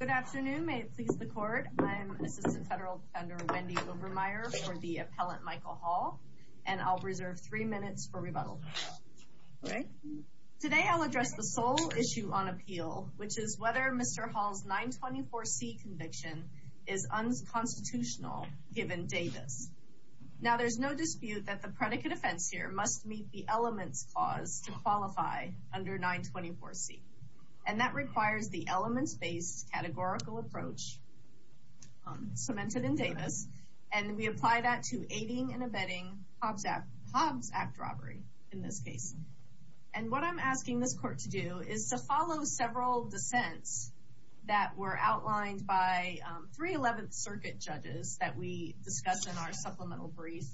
Good afternoon. May it please the court. I'm Assistant Federal Defender Wendy Obermeier for the Appellant Michael Hall, and I'll reserve three minutes for rebuttal. Today I'll address the sole issue on appeal, which is whether Mr. Hall's 924C conviction is unconstitutional given Davis. Now there's no dispute that the predicate offense here must meet the elements clause to qualify under 924C. And that requires the elements-based categorical approach cemented in Davis, and we apply that to aiding and abetting Hobbs Act robbery in this case. And what I'm asking this court to do is to follow several dissents that were outlined by 311th Circuit judges that we discussed in our supplemental brief.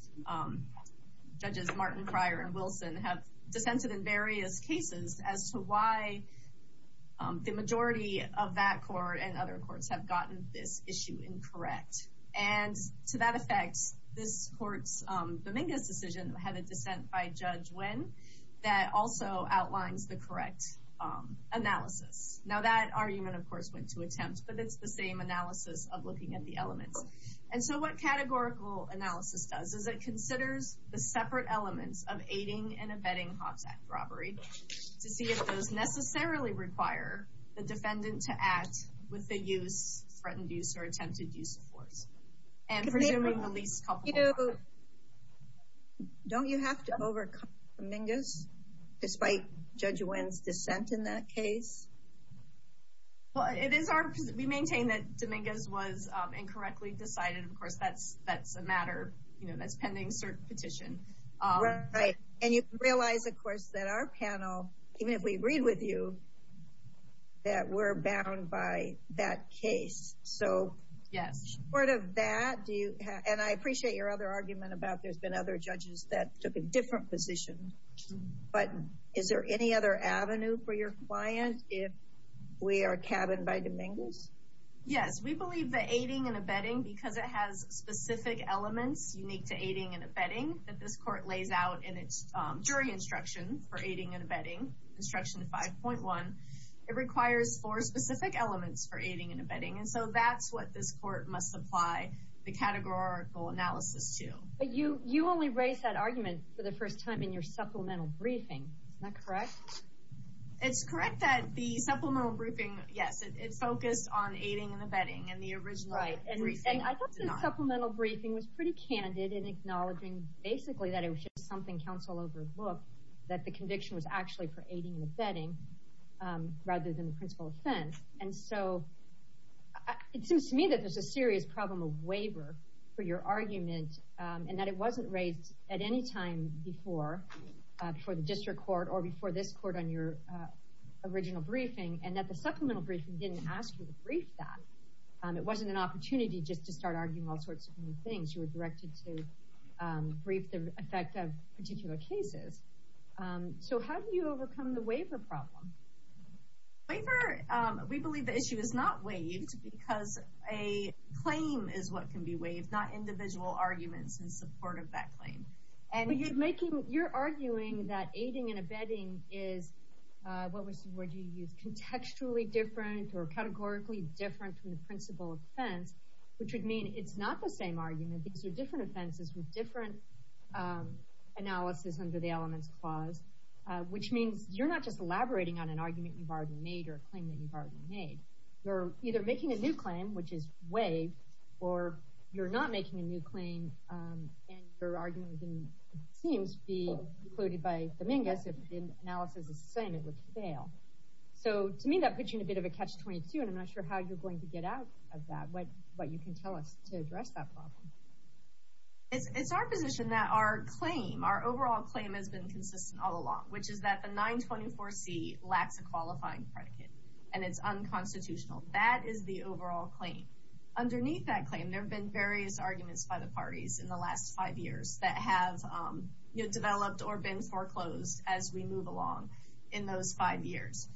Judges Martin, Cryer, and Wilson have dissented in various cases as to why the majority of that court and other courts have gotten this issue incorrect. And to that effect, this court's Dominguez decision had a dissent by Judge Wynn that also outlines the correct analysis. Now that argument, of course, went to attempt, but it's the same analysis of looking at the elements. And so what categorical analysis does is it considers the separate elements of aiding and abetting Hobbs Act robbery to see if those necessarily require the defendant to act with the use, threatened use, or attempted use of force. Don't you have to overcome Dominguez, despite Judge Wynn's dissent in that case? Well, it is our, we maintain that Dominguez was incorrectly decided. Of course, that's a matter, you know, that's pending cert petition. Right. And you realize, of course, that our panel, even if we agreed with you, that we're bound by that case. So, in support of that, do you, and I appreciate your other argument about there's been other judges that took a different position, but is there any other avenue for your client if we are cabined by Dominguez? Yes. We believe that aiding and abetting, because it has specific elements unique to aiding and abetting that this court lays out in its jury instruction for aiding and abetting, instruction 5.1, it requires four specific elements for aiding and abetting. And so that's what this court must apply the categorical analysis to. But you only raised that argument for the first time in your supplemental briefing. Is that correct? It's correct that the supplemental briefing, yes, it focused on aiding and abetting, and the original briefing did not. Right. And I thought the supplemental briefing was pretty candid in acknowledging basically that it was just something counsel overlooked, that the conviction was actually for aiding and abetting, rather than the principal offense. And so it seems to me that there's a serious problem of waiver for your argument, and that it wasn't raised at any time before the district court or before this court on your original briefing, and that the supplemental briefing didn't ask you to brief that. It wasn't an opportunity just to start arguing all sorts of new things. You were directed to brief the effect of particular cases. So how do you overcome the waiver problem? We believe the issue is not waived, because a claim is what can be waived, not individual arguments in support of that claim. You're arguing that aiding and abetting is, what would you use, contextually different or categorically different from the principal offense, which would mean it's not the same argument. These are different offenses with different analysis under the elements clause, which means you're not just elaborating on an argument you've already made or a claim that you've already made. You're either making a new claim, which is waived, or you're not making a new claim, and your argument seems to be concluded by Dominguez if the analysis is the same, it would fail. So to me, that puts you in a bit of a catch-22, and I'm not sure how you're going to get out of that, what you can tell us to address that problem. It's our position that our claim, our overall claim has been consistent all along, which is that the 924C lacks a qualifying predicate, and it's unconstitutional. That is the overall claim. Underneath that claim, there have been various arguments by the parties in the last five years that have developed or been foreclosed as we move along in those five years.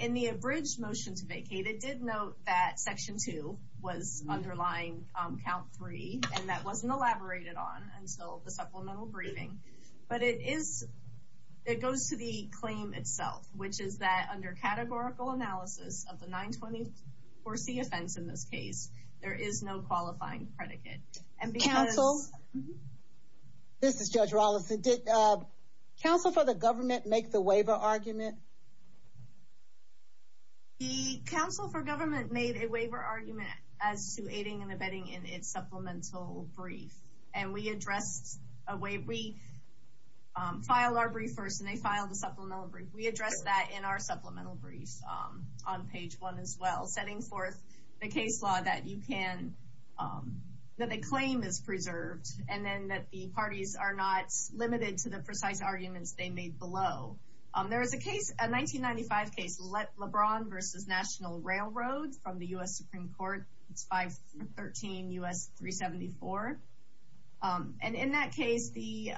In the abridged motion to vacate, it did note that Section 2 was underlying Count 3, and that wasn't elaborated on until the supplemental briefing. But it goes to the claim itself, which is that under categorical analysis of the 924C offense in this case, there is no qualifying predicate. Counsel? This is Judge Rollison. Did counsel for the government make the waiver argument? The counsel for government made a waiver argument as to aiding and abetting in its supplemental brief, and we addressed a waiver. We filed our brief first, and they filed the supplemental brief. We addressed that in our supplemental brief on page 1 as well, setting forth the case law that you can, that the claim is preserved, and then that the parties are not limited to the precise arguments they made below. There is a case, a 1995 case, LeBron v. National Railroad from the U.S. Supreme Court. It's 513 U.S. 374. And in that case, the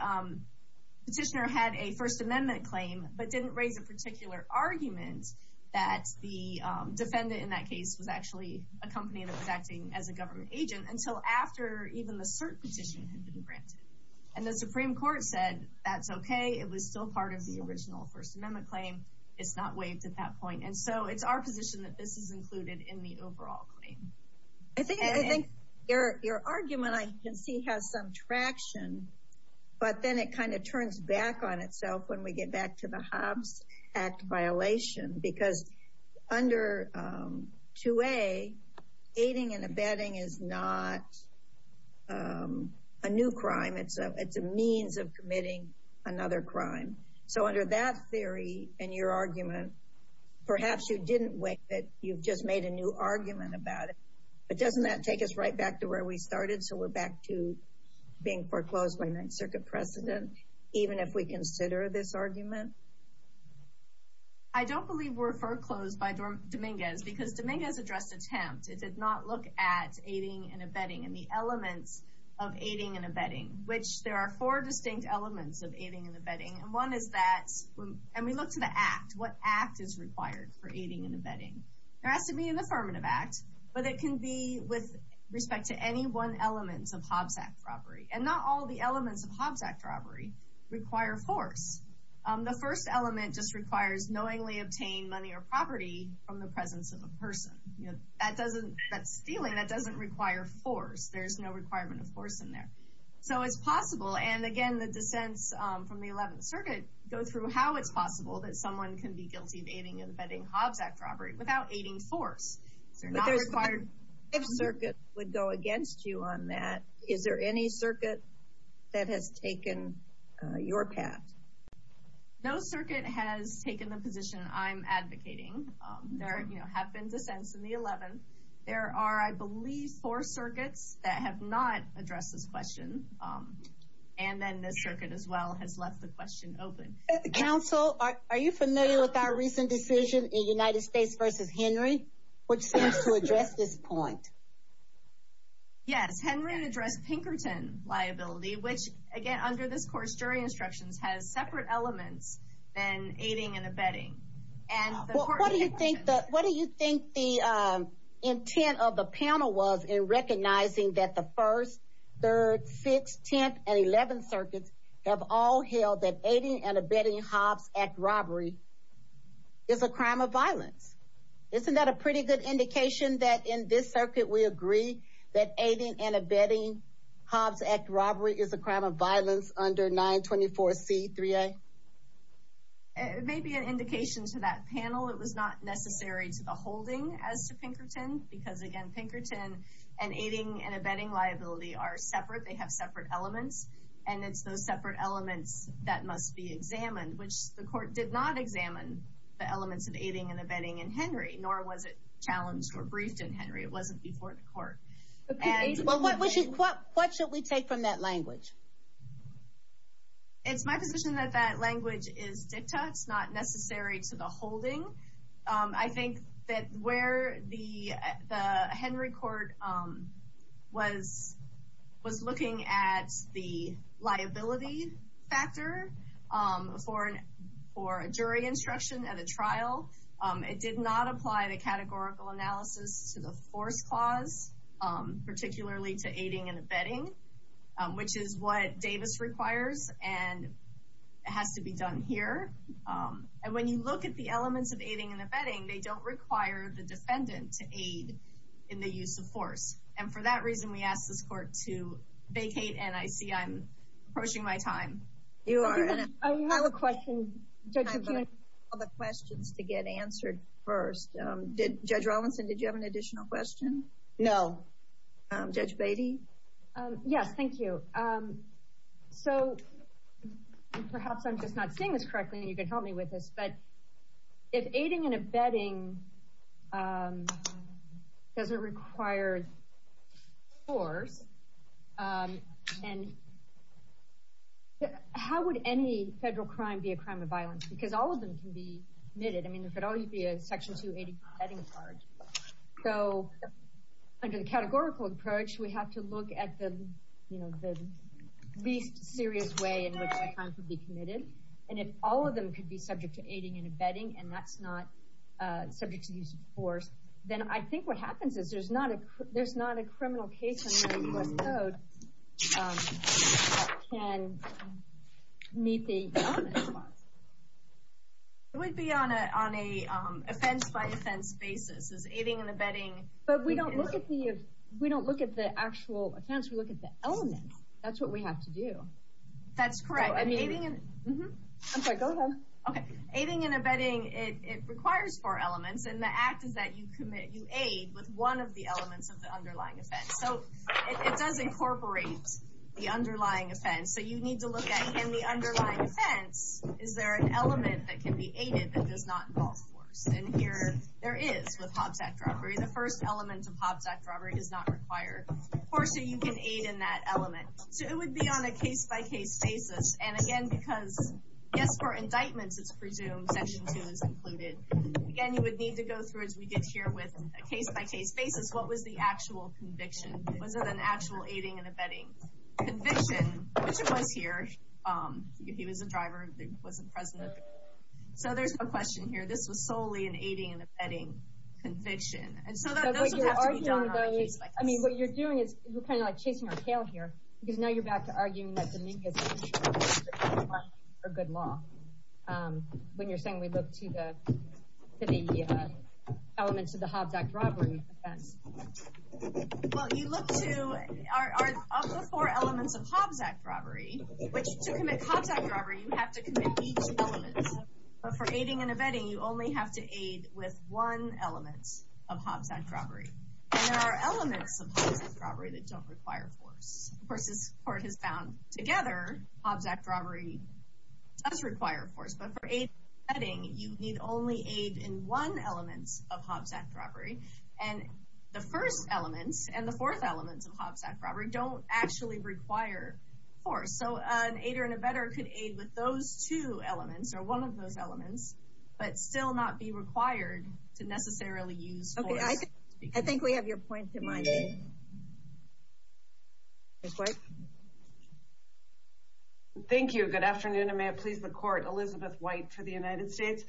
petitioner had a First Amendment claim, but didn't raise a particular argument that the defendant in that case was actually a company that was acting as a government agent until after even the cert petition had been granted. And the Supreme Court said, that's okay. It was still part of the original First Amendment claim. It's not waived at that point. And so it's our position that this is included in the overall claim. I think your argument, I can see, has some traction, but then it kind of turns back on itself when we get back to the Hobbs Act violation. Because under 2A, aiding and abetting is not a new crime. It's a means of committing another crime. So under that theory and your argument, perhaps you didn't waive it. You've just made a new argument about it. But doesn't that take us right back to where we started, so we're back to being foreclosed by Ninth Circuit precedent, even if we consider this argument? I don't believe we're foreclosed by Dominguez because Dominguez addressed attempt. It did not look at aiding and abetting and the elements of aiding and abetting, which there are four distinct elements of aiding and abetting. And one is that, and we look to the act, what act is required for aiding and abetting? There has to be an affirmative act, but it can be with respect to any one element of Hobbs Act robbery. And not all the elements of Hobbs Act robbery require force. The first element just requires knowingly obtain money or property from the presence of a person. That's stealing. That doesn't require force. There's no requirement of force in there. So it's possible, and again, the dissents from the Eleventh Circuit go through how it's possible that someone can be guilty of aiding and abetting Hobbs Act robbery without aiding force. But if Circuit would go against you on that, is there any Circuit that has taken your path? No Circuit has taken the position I'm advocating. There have been dissents in the Eleventh. There are, I believe, four Circuits that have not addressed this question. And then this Circuit, as well, has left the question open. Counsel, are you familiar with our recent decision in United States v. Henry, which seems to address this point? Yes, Henry addressed Pinkerton liability, which, again, under this Court's jury instructions, has separate elements than aiding and abetting. What do you think the intent of the panel was in recognizing that the First, Third, Sixth, Tenth, and Eleventh Circuits have all held that aiding and abetting Hobbs Act robbery is a crime of violence? Isn't that a pretty good indication that in this Circuit we agree that aiding and abetting Hobbs Act robbery is a crime of violence under 924C3A? It may be an indication to that panel it was not necessary to the holding as to Pinkerton, because, again, Pinkerton and aiding and abetting liability are separate. They have separate elements, and it's those separate elements that must be examined, which the Court did not examine the elements of aiding and abetting in Henry, nor was it challenged or briefed in Henry. It wasn't before the Court. What should we take from that language? It's my position that that language is dicta. It's not necessary to the holding. I think that where the Henry Court was looking at the liability factor for a jury instruction at a trial, it did not apply the categorical analysis to the force clause, particularly to aiding and abetting, which is what Davis requires and has to be done here. And when you look at the elements of aiding and abetting, they don't require the defendant to aid in the use of force. And for that reason, we ask this Court to vacate. And I see I'm approaching my time. You are. I have a question. I have all the questions to get answered first. Judge Rawlinson, did you have an additional question? No. Judge Beatty? Yes, thank you. So perhaps I'm just not seeing this correctly, and you can help me with this. But if aiding and abetting doesn't require force, how would any federal crime be a crime of violence? Because all of them can be admitted. I mean, if it ought to be a Section 280 abetting charge. So under the categorical approach, we have to look at the least serious way in which a crime could be committed. And if all of them could be subject to aiding and abetting, and that's not subject to use of force, then I think what happens is there's not a criminal case in the U.S. Code that can meet the element clause. It would be on an offense-by-offense basis. Is aiding and abetting... But we don't look at the actual offense. We look at the element. That's what we have to do. That's correct. I mean, aiding and... I'm sorry. Go ahead. Okay. Aiding and abetting, it requires four elements. And the act is that you aid with one of the elements of the underlying offense. So it does incorporate the underlying offense. So you need to look at, in the underlying offense, is there an element that can be aided that does not involve force? And here there is with Hobbs Act robbery. The first element of Hobbs Act robbery does not require force, so you can aid in that element. So it would be on a case-by-case basis. And, again, because, yes, for indictments it's presumed Section 2 is included. Again, you would need to go through, as we did here with a case-by-case basis, what was the actual conviction? Was it an actual aiding and abetting conviction? Which it was here. If he was a driver, it wasn't present. So there's a question here. This was solely an aiding and abetting conviction. And so those would have to be done on a case-by-case basis. I mean, what you're doing is, you're kind of like chasing our tail here, because now you're back to arguing that Dominguez is a good law. When you're saying we look to the elements of the Hobbs Act robbery offense. Well, you look to the four elements of Hobbs Act robbery, which to commit Hobbs Act robbery, you have to commit each element. But for aiding and abetting, you only have to aid with one element of Hobbs Act robbery. And there are elements of Hobbs Act robbery that don't require force. Of course, as the Court has found together, Hobbs Act robbery does require force. But for aiding and abetting, you need only aid in one element of Hobbs Act robbery. And the first element and the fourth element of Hobbs Act robbery don't actually require force. So an aider and abetter could aid with those two elements or one of those elements, but still not be required to necessarily use force. Okay, I think we have your point in mind. Thank you. Good afternoon, and may it please the Court. Elizabeth White for the United States.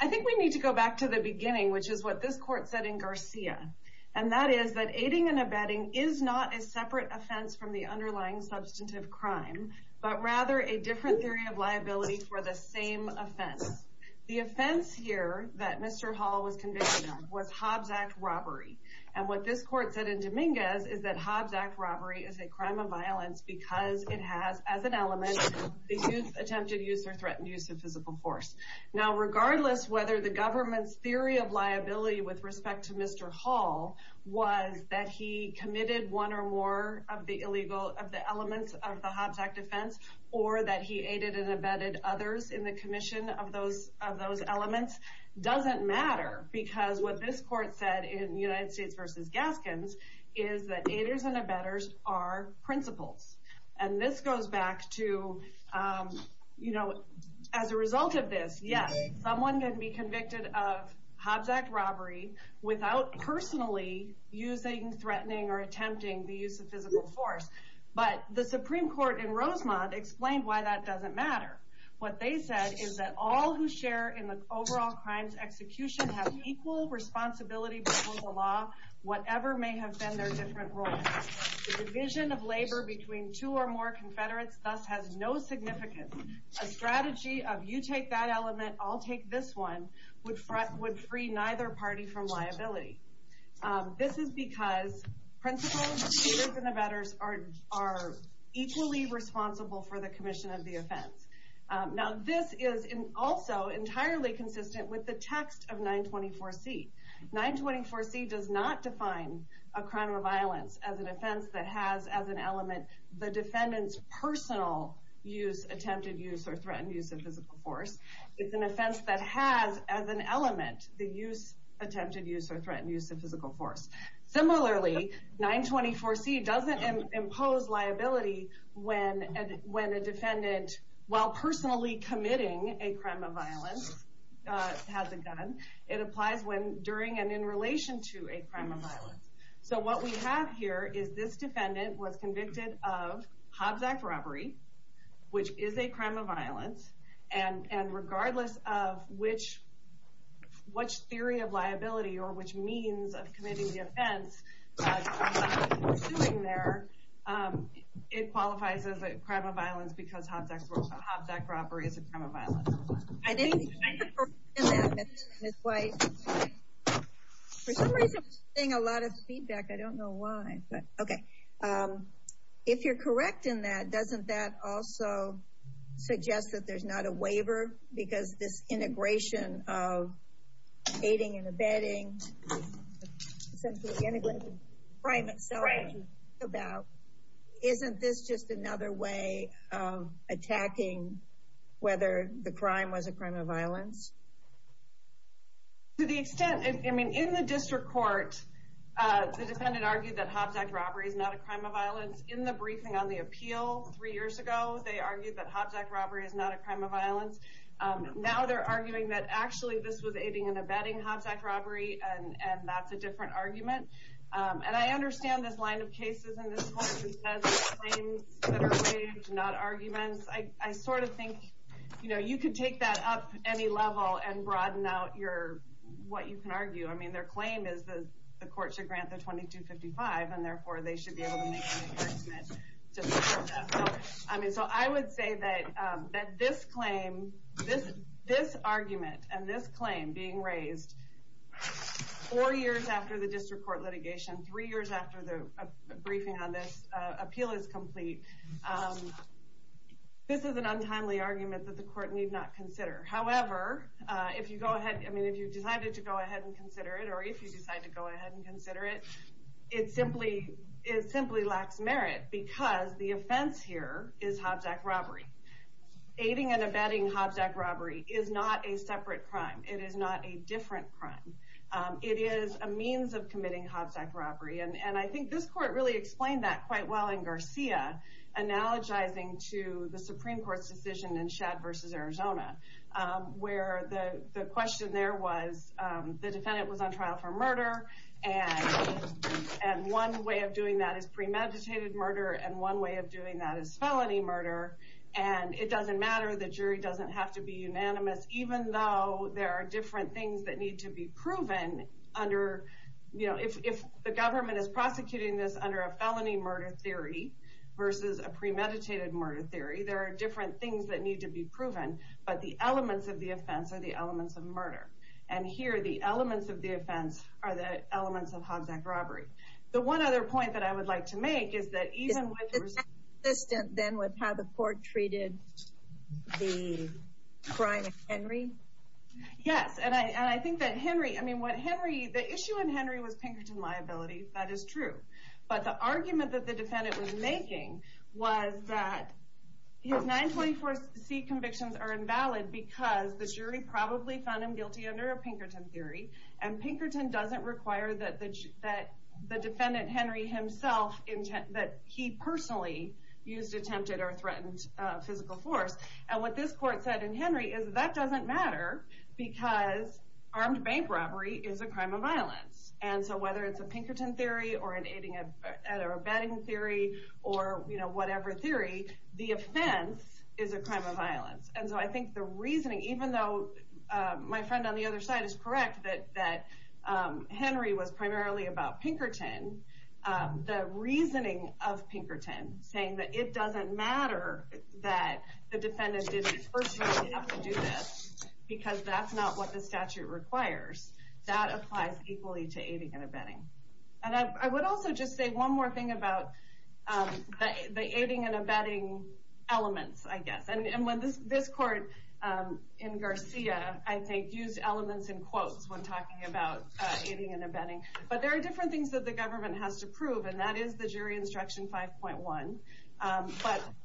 I think we need to go back to the beginning, which is what this Court said in Garcia. And that is that aiding and abetting is not a separate offense from the underlying substantive crime, but rather a different theory of liability for the same offense. The offense here that Mr. Hall was convicted of was Hobbs Act robbery. And what this Court said in Dominguez is that Hobbs Act robbery is a crime of violence because it has, as an element, the use, attempted use, or threatened use of physical force. Now regardless whether the government's theory of liability with respect to Mr. Hall was that he committed one or more of the elements of the Hobbs Act offense, or that he aided and abetted others in the commission of those elements, doesn't matter. Because what this Court said in United States v. Gaskins is that aiders and abetters are principles. And this goes back to, as a result of this, yes, someone can be convicted of Hobbs Act robbery without personally using, threatening, or attempting the use of physical force. But the Supreme Court in Rosemont explained why that doesn't matter. What they said is that all who share in the overall crimes execution have equal responsibility before the law, whatever may have been their different roles. The division of labor between two or more Confederates thus has no significance. A strategy of you take that element, I'll take this one, would free neither party from liability. This is because principles, aiders, and abetters are equally responsible for the commission of the offense. Now this is also entirely consistent with the text of 924C. 924C does not define a crime of violence as an offense that has as an element the defendant's personal use, attempted use, or threatened use of physical force. It's an offense that has as an element the use, attempted use, or threatened use of physical force. Similarly, 924C doesn't impose liability when a defendant, while personally committing a crime of violence, has a gun. It applies when, during, and in relation to a crime of violence. So what we have here is this defendant was convicted of Hobbs Act robbery, which is a crime of violence, and regardless of which theory of liability or which means of committing the offense, it qualifies as a crime of violence because Hobbs Act robbery is a crime of violence. I didn't understand that, Ms. White. For some reason, I'm seeing a lot of feedback. I don't know why. Okay, if you're correct in that, doesn't that also suggest that there's not a waiver because this integration of aiding and abetting, essentially integrating crime itself, isn't this just another way of attacking whether the crime was a crime of violence? To the extent, I mean, in the district court, the defendant argued that Hobbs Act robbery is not a crime of violence. In the briefing on the appeal three years ago, they argued that Hobbs Act robbery is not a crime of violence. Now they're arguing that actually this was aiding and abetting Hobbs Act robbery, and that's a different argument. And I understand this line of cases and this whole consensus claims that are waived, not arguments. I sort of think you could take that up any level and broaden out what you can argue. I mean, their claim is the court should grant the 2255, and therefore they should be able to make an endorsement to support that. So I would say that this argument and this claim being raised four years after the district court litigation, three years after the briefing on this, appeal is complete. This is an untimely argument that the court need not consider. However, if you decided to go ahead and consider it, or if you decide to go ahead and consider it, it simply lacks merit, because the offense here is Hobbs Act robbery. Aiding and abetting Hobbs Act robbery is not a separate crime. It is not a different crime. It is a means of committing Hobbs Act robbery. And I think this court really explained that quite well in Garcia, analogizing to the Supreme Court's decision in Shad v. Arizona, where the question there was the defendant was on trial for murder, and one way of doing that is premeditated murder, and one way of doing that is felony murder. And it doesn't matter, the jury doesn't have to be unanimous, even though there are different things that need to be proven. If the government is prosecuting this under a felony murder theory versus a premeditated murder theory, there are different things that need to be proven, but the elements of the offense are the elements of murder. And here, the elements of the offense are the elements of Hobbs Act robbery. The one other point that I would like to make is that even when the result... It's inconsistent, then, with how the court treated the crime of Henry? Yes, and I think that Henry, I mean, the issue in Henry was Pinkerton liability, that is true. But the argument that the defendant was making was that his 924C convictions are invalid because the jury probably found him guilty under a Pinkerton theory, and Pinkerton doesn't require that the defendant, Henry himself, that he personally used attempted or threatened physical force. And what this court said in Henry is that doesn't matter because armed bank robbery is a crime of violence. And so whether it's a Pinkerton theory or a betting theory or whatever theory, the offense is a crime of violence. And so I think the reasoning, even though my friend on the other side is correct that Henry was primarily about Pinkerton, the reasoning of Pinkerton saying that it doesn't matter that the defendant didn't personally have to do this because that's not what the statute requires, that applies equally to aiding and abetting. And I would also just say one more thing about the aiding and abetting elements, I guess. And when this court in Garcia, I think, used elements in quotes when talking about aiding and abetting. But there are different things that the government has to prove, and that is the jury instruction 5.1.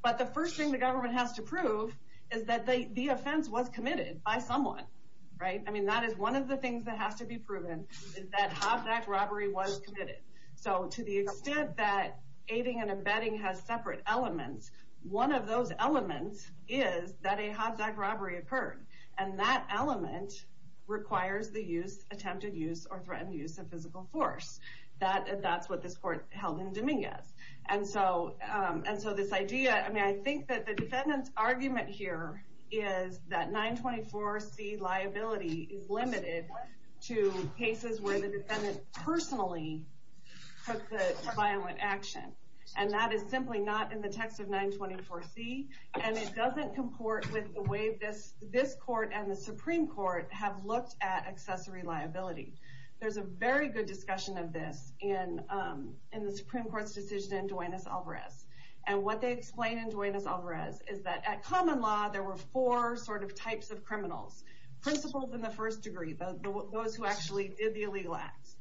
But the first thing the government has to prove is that the offense was committed by someone, right? I mean, that is one of the things that has to be proven is that Hobbs Act robbery was committed. So to the extent that aiding and abetting has separate elements, one of those elements is that a Hobbs Act robbery occurred. And that element requires the use, attempted use or threatened use of physical force. That's what this court held in Dominguez. And so this idea, I mean, I think that the defendant's argument here is that 924C liability is limited to cases where the defendant personally took the violent action. And that is simply not in the text of 924C. And it doesn't comport with the way this court and the Supreme Court have looked at accessory liability. There's a very good discussion of this in the Supreme Court's decision in Duenas-Alvarez. And what they explain in Duenas-Alvarez is that at common law, there were four sort of types of criminals. Principals in the first degree, those who actually did the illegal acts.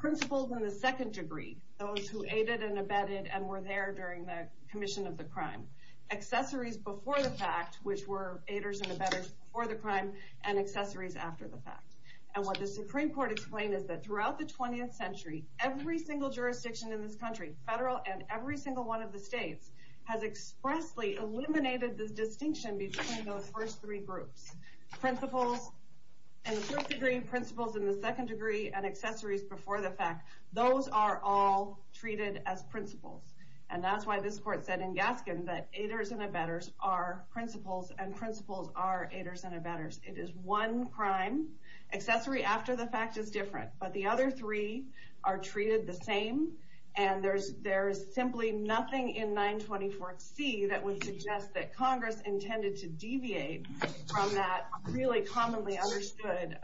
Principals in the second degree, those who aided and abetted and were there during the commission of the crime. Accessories before the fact, which were aiders and abetters before the crime, and accessories after the fact. And what the Supreme Court explained is that throughout the 20th century, every single jurisdiction in this country, federal and every single one of the states, has expressly eliminated the distinction between those first three groups. Principals in the first degree, principals in the second degree, and accessories before the fact. Those are all treated as principals. And that's why this court said in Gaskin that aiders and abetters are principals and principals are aiders and abetters. It is one crime. Accessory after the fact is different. But the other three are treated the same. And there's simply nothing in 924C that would suggest that Congress intended to deviate from that really commonly understood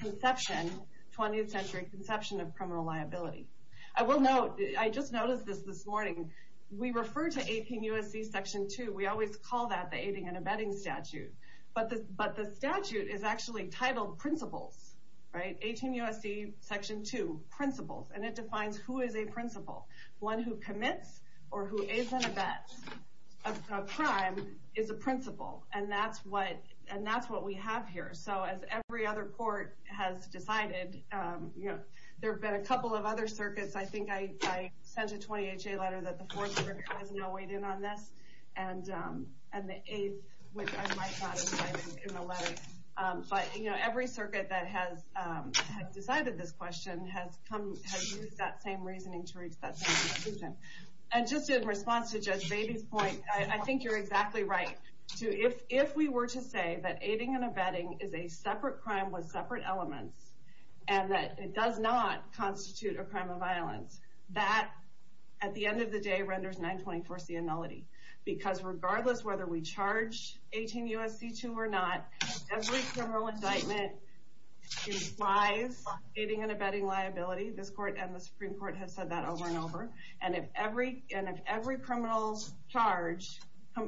conception, 20th century conception of criminal liability. I will note, I just noticed this this morning, we refer to APUSC Section 2, we always call that the aiding and abetting statute. But the statute is actually titled Principals, right? 18 U.S.C. Section 2, Principals. And it defines who is a principal. One who commits or who aids and abets a crime is a principal. And that's what we have here. So as every other court has decided, there have been a couple of other circuits, I think I sent a 20HA letter that the 4th Circuit has now weighed in on this, and the 8th, which I might not have cited in the letter. But every circuit that has decided this question has used that same reasoning to reach that same conclusion. And just in response to Judge Batey's point, I think you're exactly right. If we were to say that aiding and abetting is a separate crime with separate elements, and that it does not constitute a crime of violence, that, at the end of the day, renders 924C a nullity. Because regardless of whether we charge 18 U.S.C. 2 or not, every criminal indictment implies aiding and abetting liability. This court and the Supreme Court have said that over and over. And if every criminal charge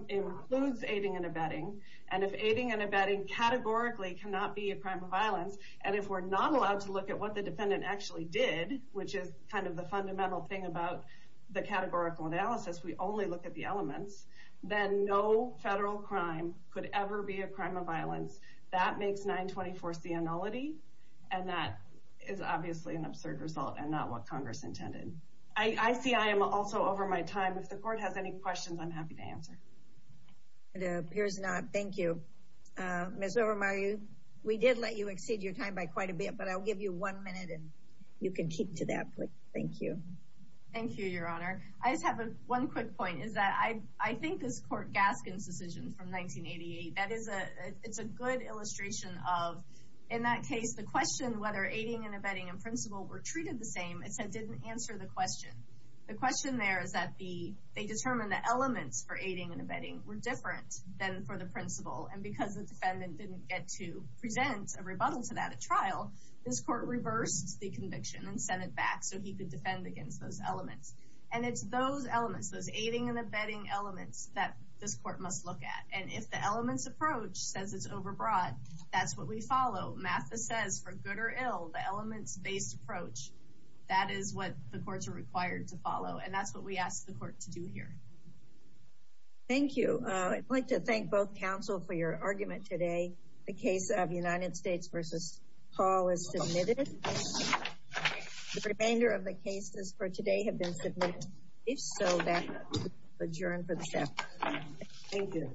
includes aiding and abetting, and if aiding and abetting categorically cannot be a crime of violence, and if we're not allowed to look at what the defendant actually did, which is kind of the fundamental thing about the categorical analysis, we only look at the elements, then no federal crime could ever be a crime of violence. That makes 924C a nullity, and that is obviously an absurd result, and not what Congress intended. I see I am also over my time. If the court has any questions, I'm happy to answer. It appears not. Thank you. Ms. Overmeyer, we did let you exceed your time by quite a bit, but I'll give you one minute, and you can keep to that point. Thank you. Thank you, Your Honor. I just have one quick point, is that I think this Court Gaskin's decision from 1988, it's a good illustration of, in that case, the question whether aiding and abetting and principle were treated the same, it said didn't answer the question. The question there is that they determined the elements for aiding and abetting were different than for the principle, and because the defendant didn't get to present a rebuttal to that at trial, this court reversed the conviction and sent it back so he could defend against those elements. And it's those elements, those aiding and abetting elements, that this court must look at. And if the elements approach says it's overbroad, that's what we follow. Mathis says for good or ill, the elements-based approach, that is what the courts are required to follow, and that's what we ask the court to do here. Thank you. I'd like to thank both counsel for your argument today, the case of United States v. Paul is submitted. The remainder of the cases for today have been submitted. If so, that's adjourned for the staff. Thank you.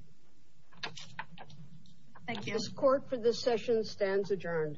Thank you. This court for this session stands adjourned.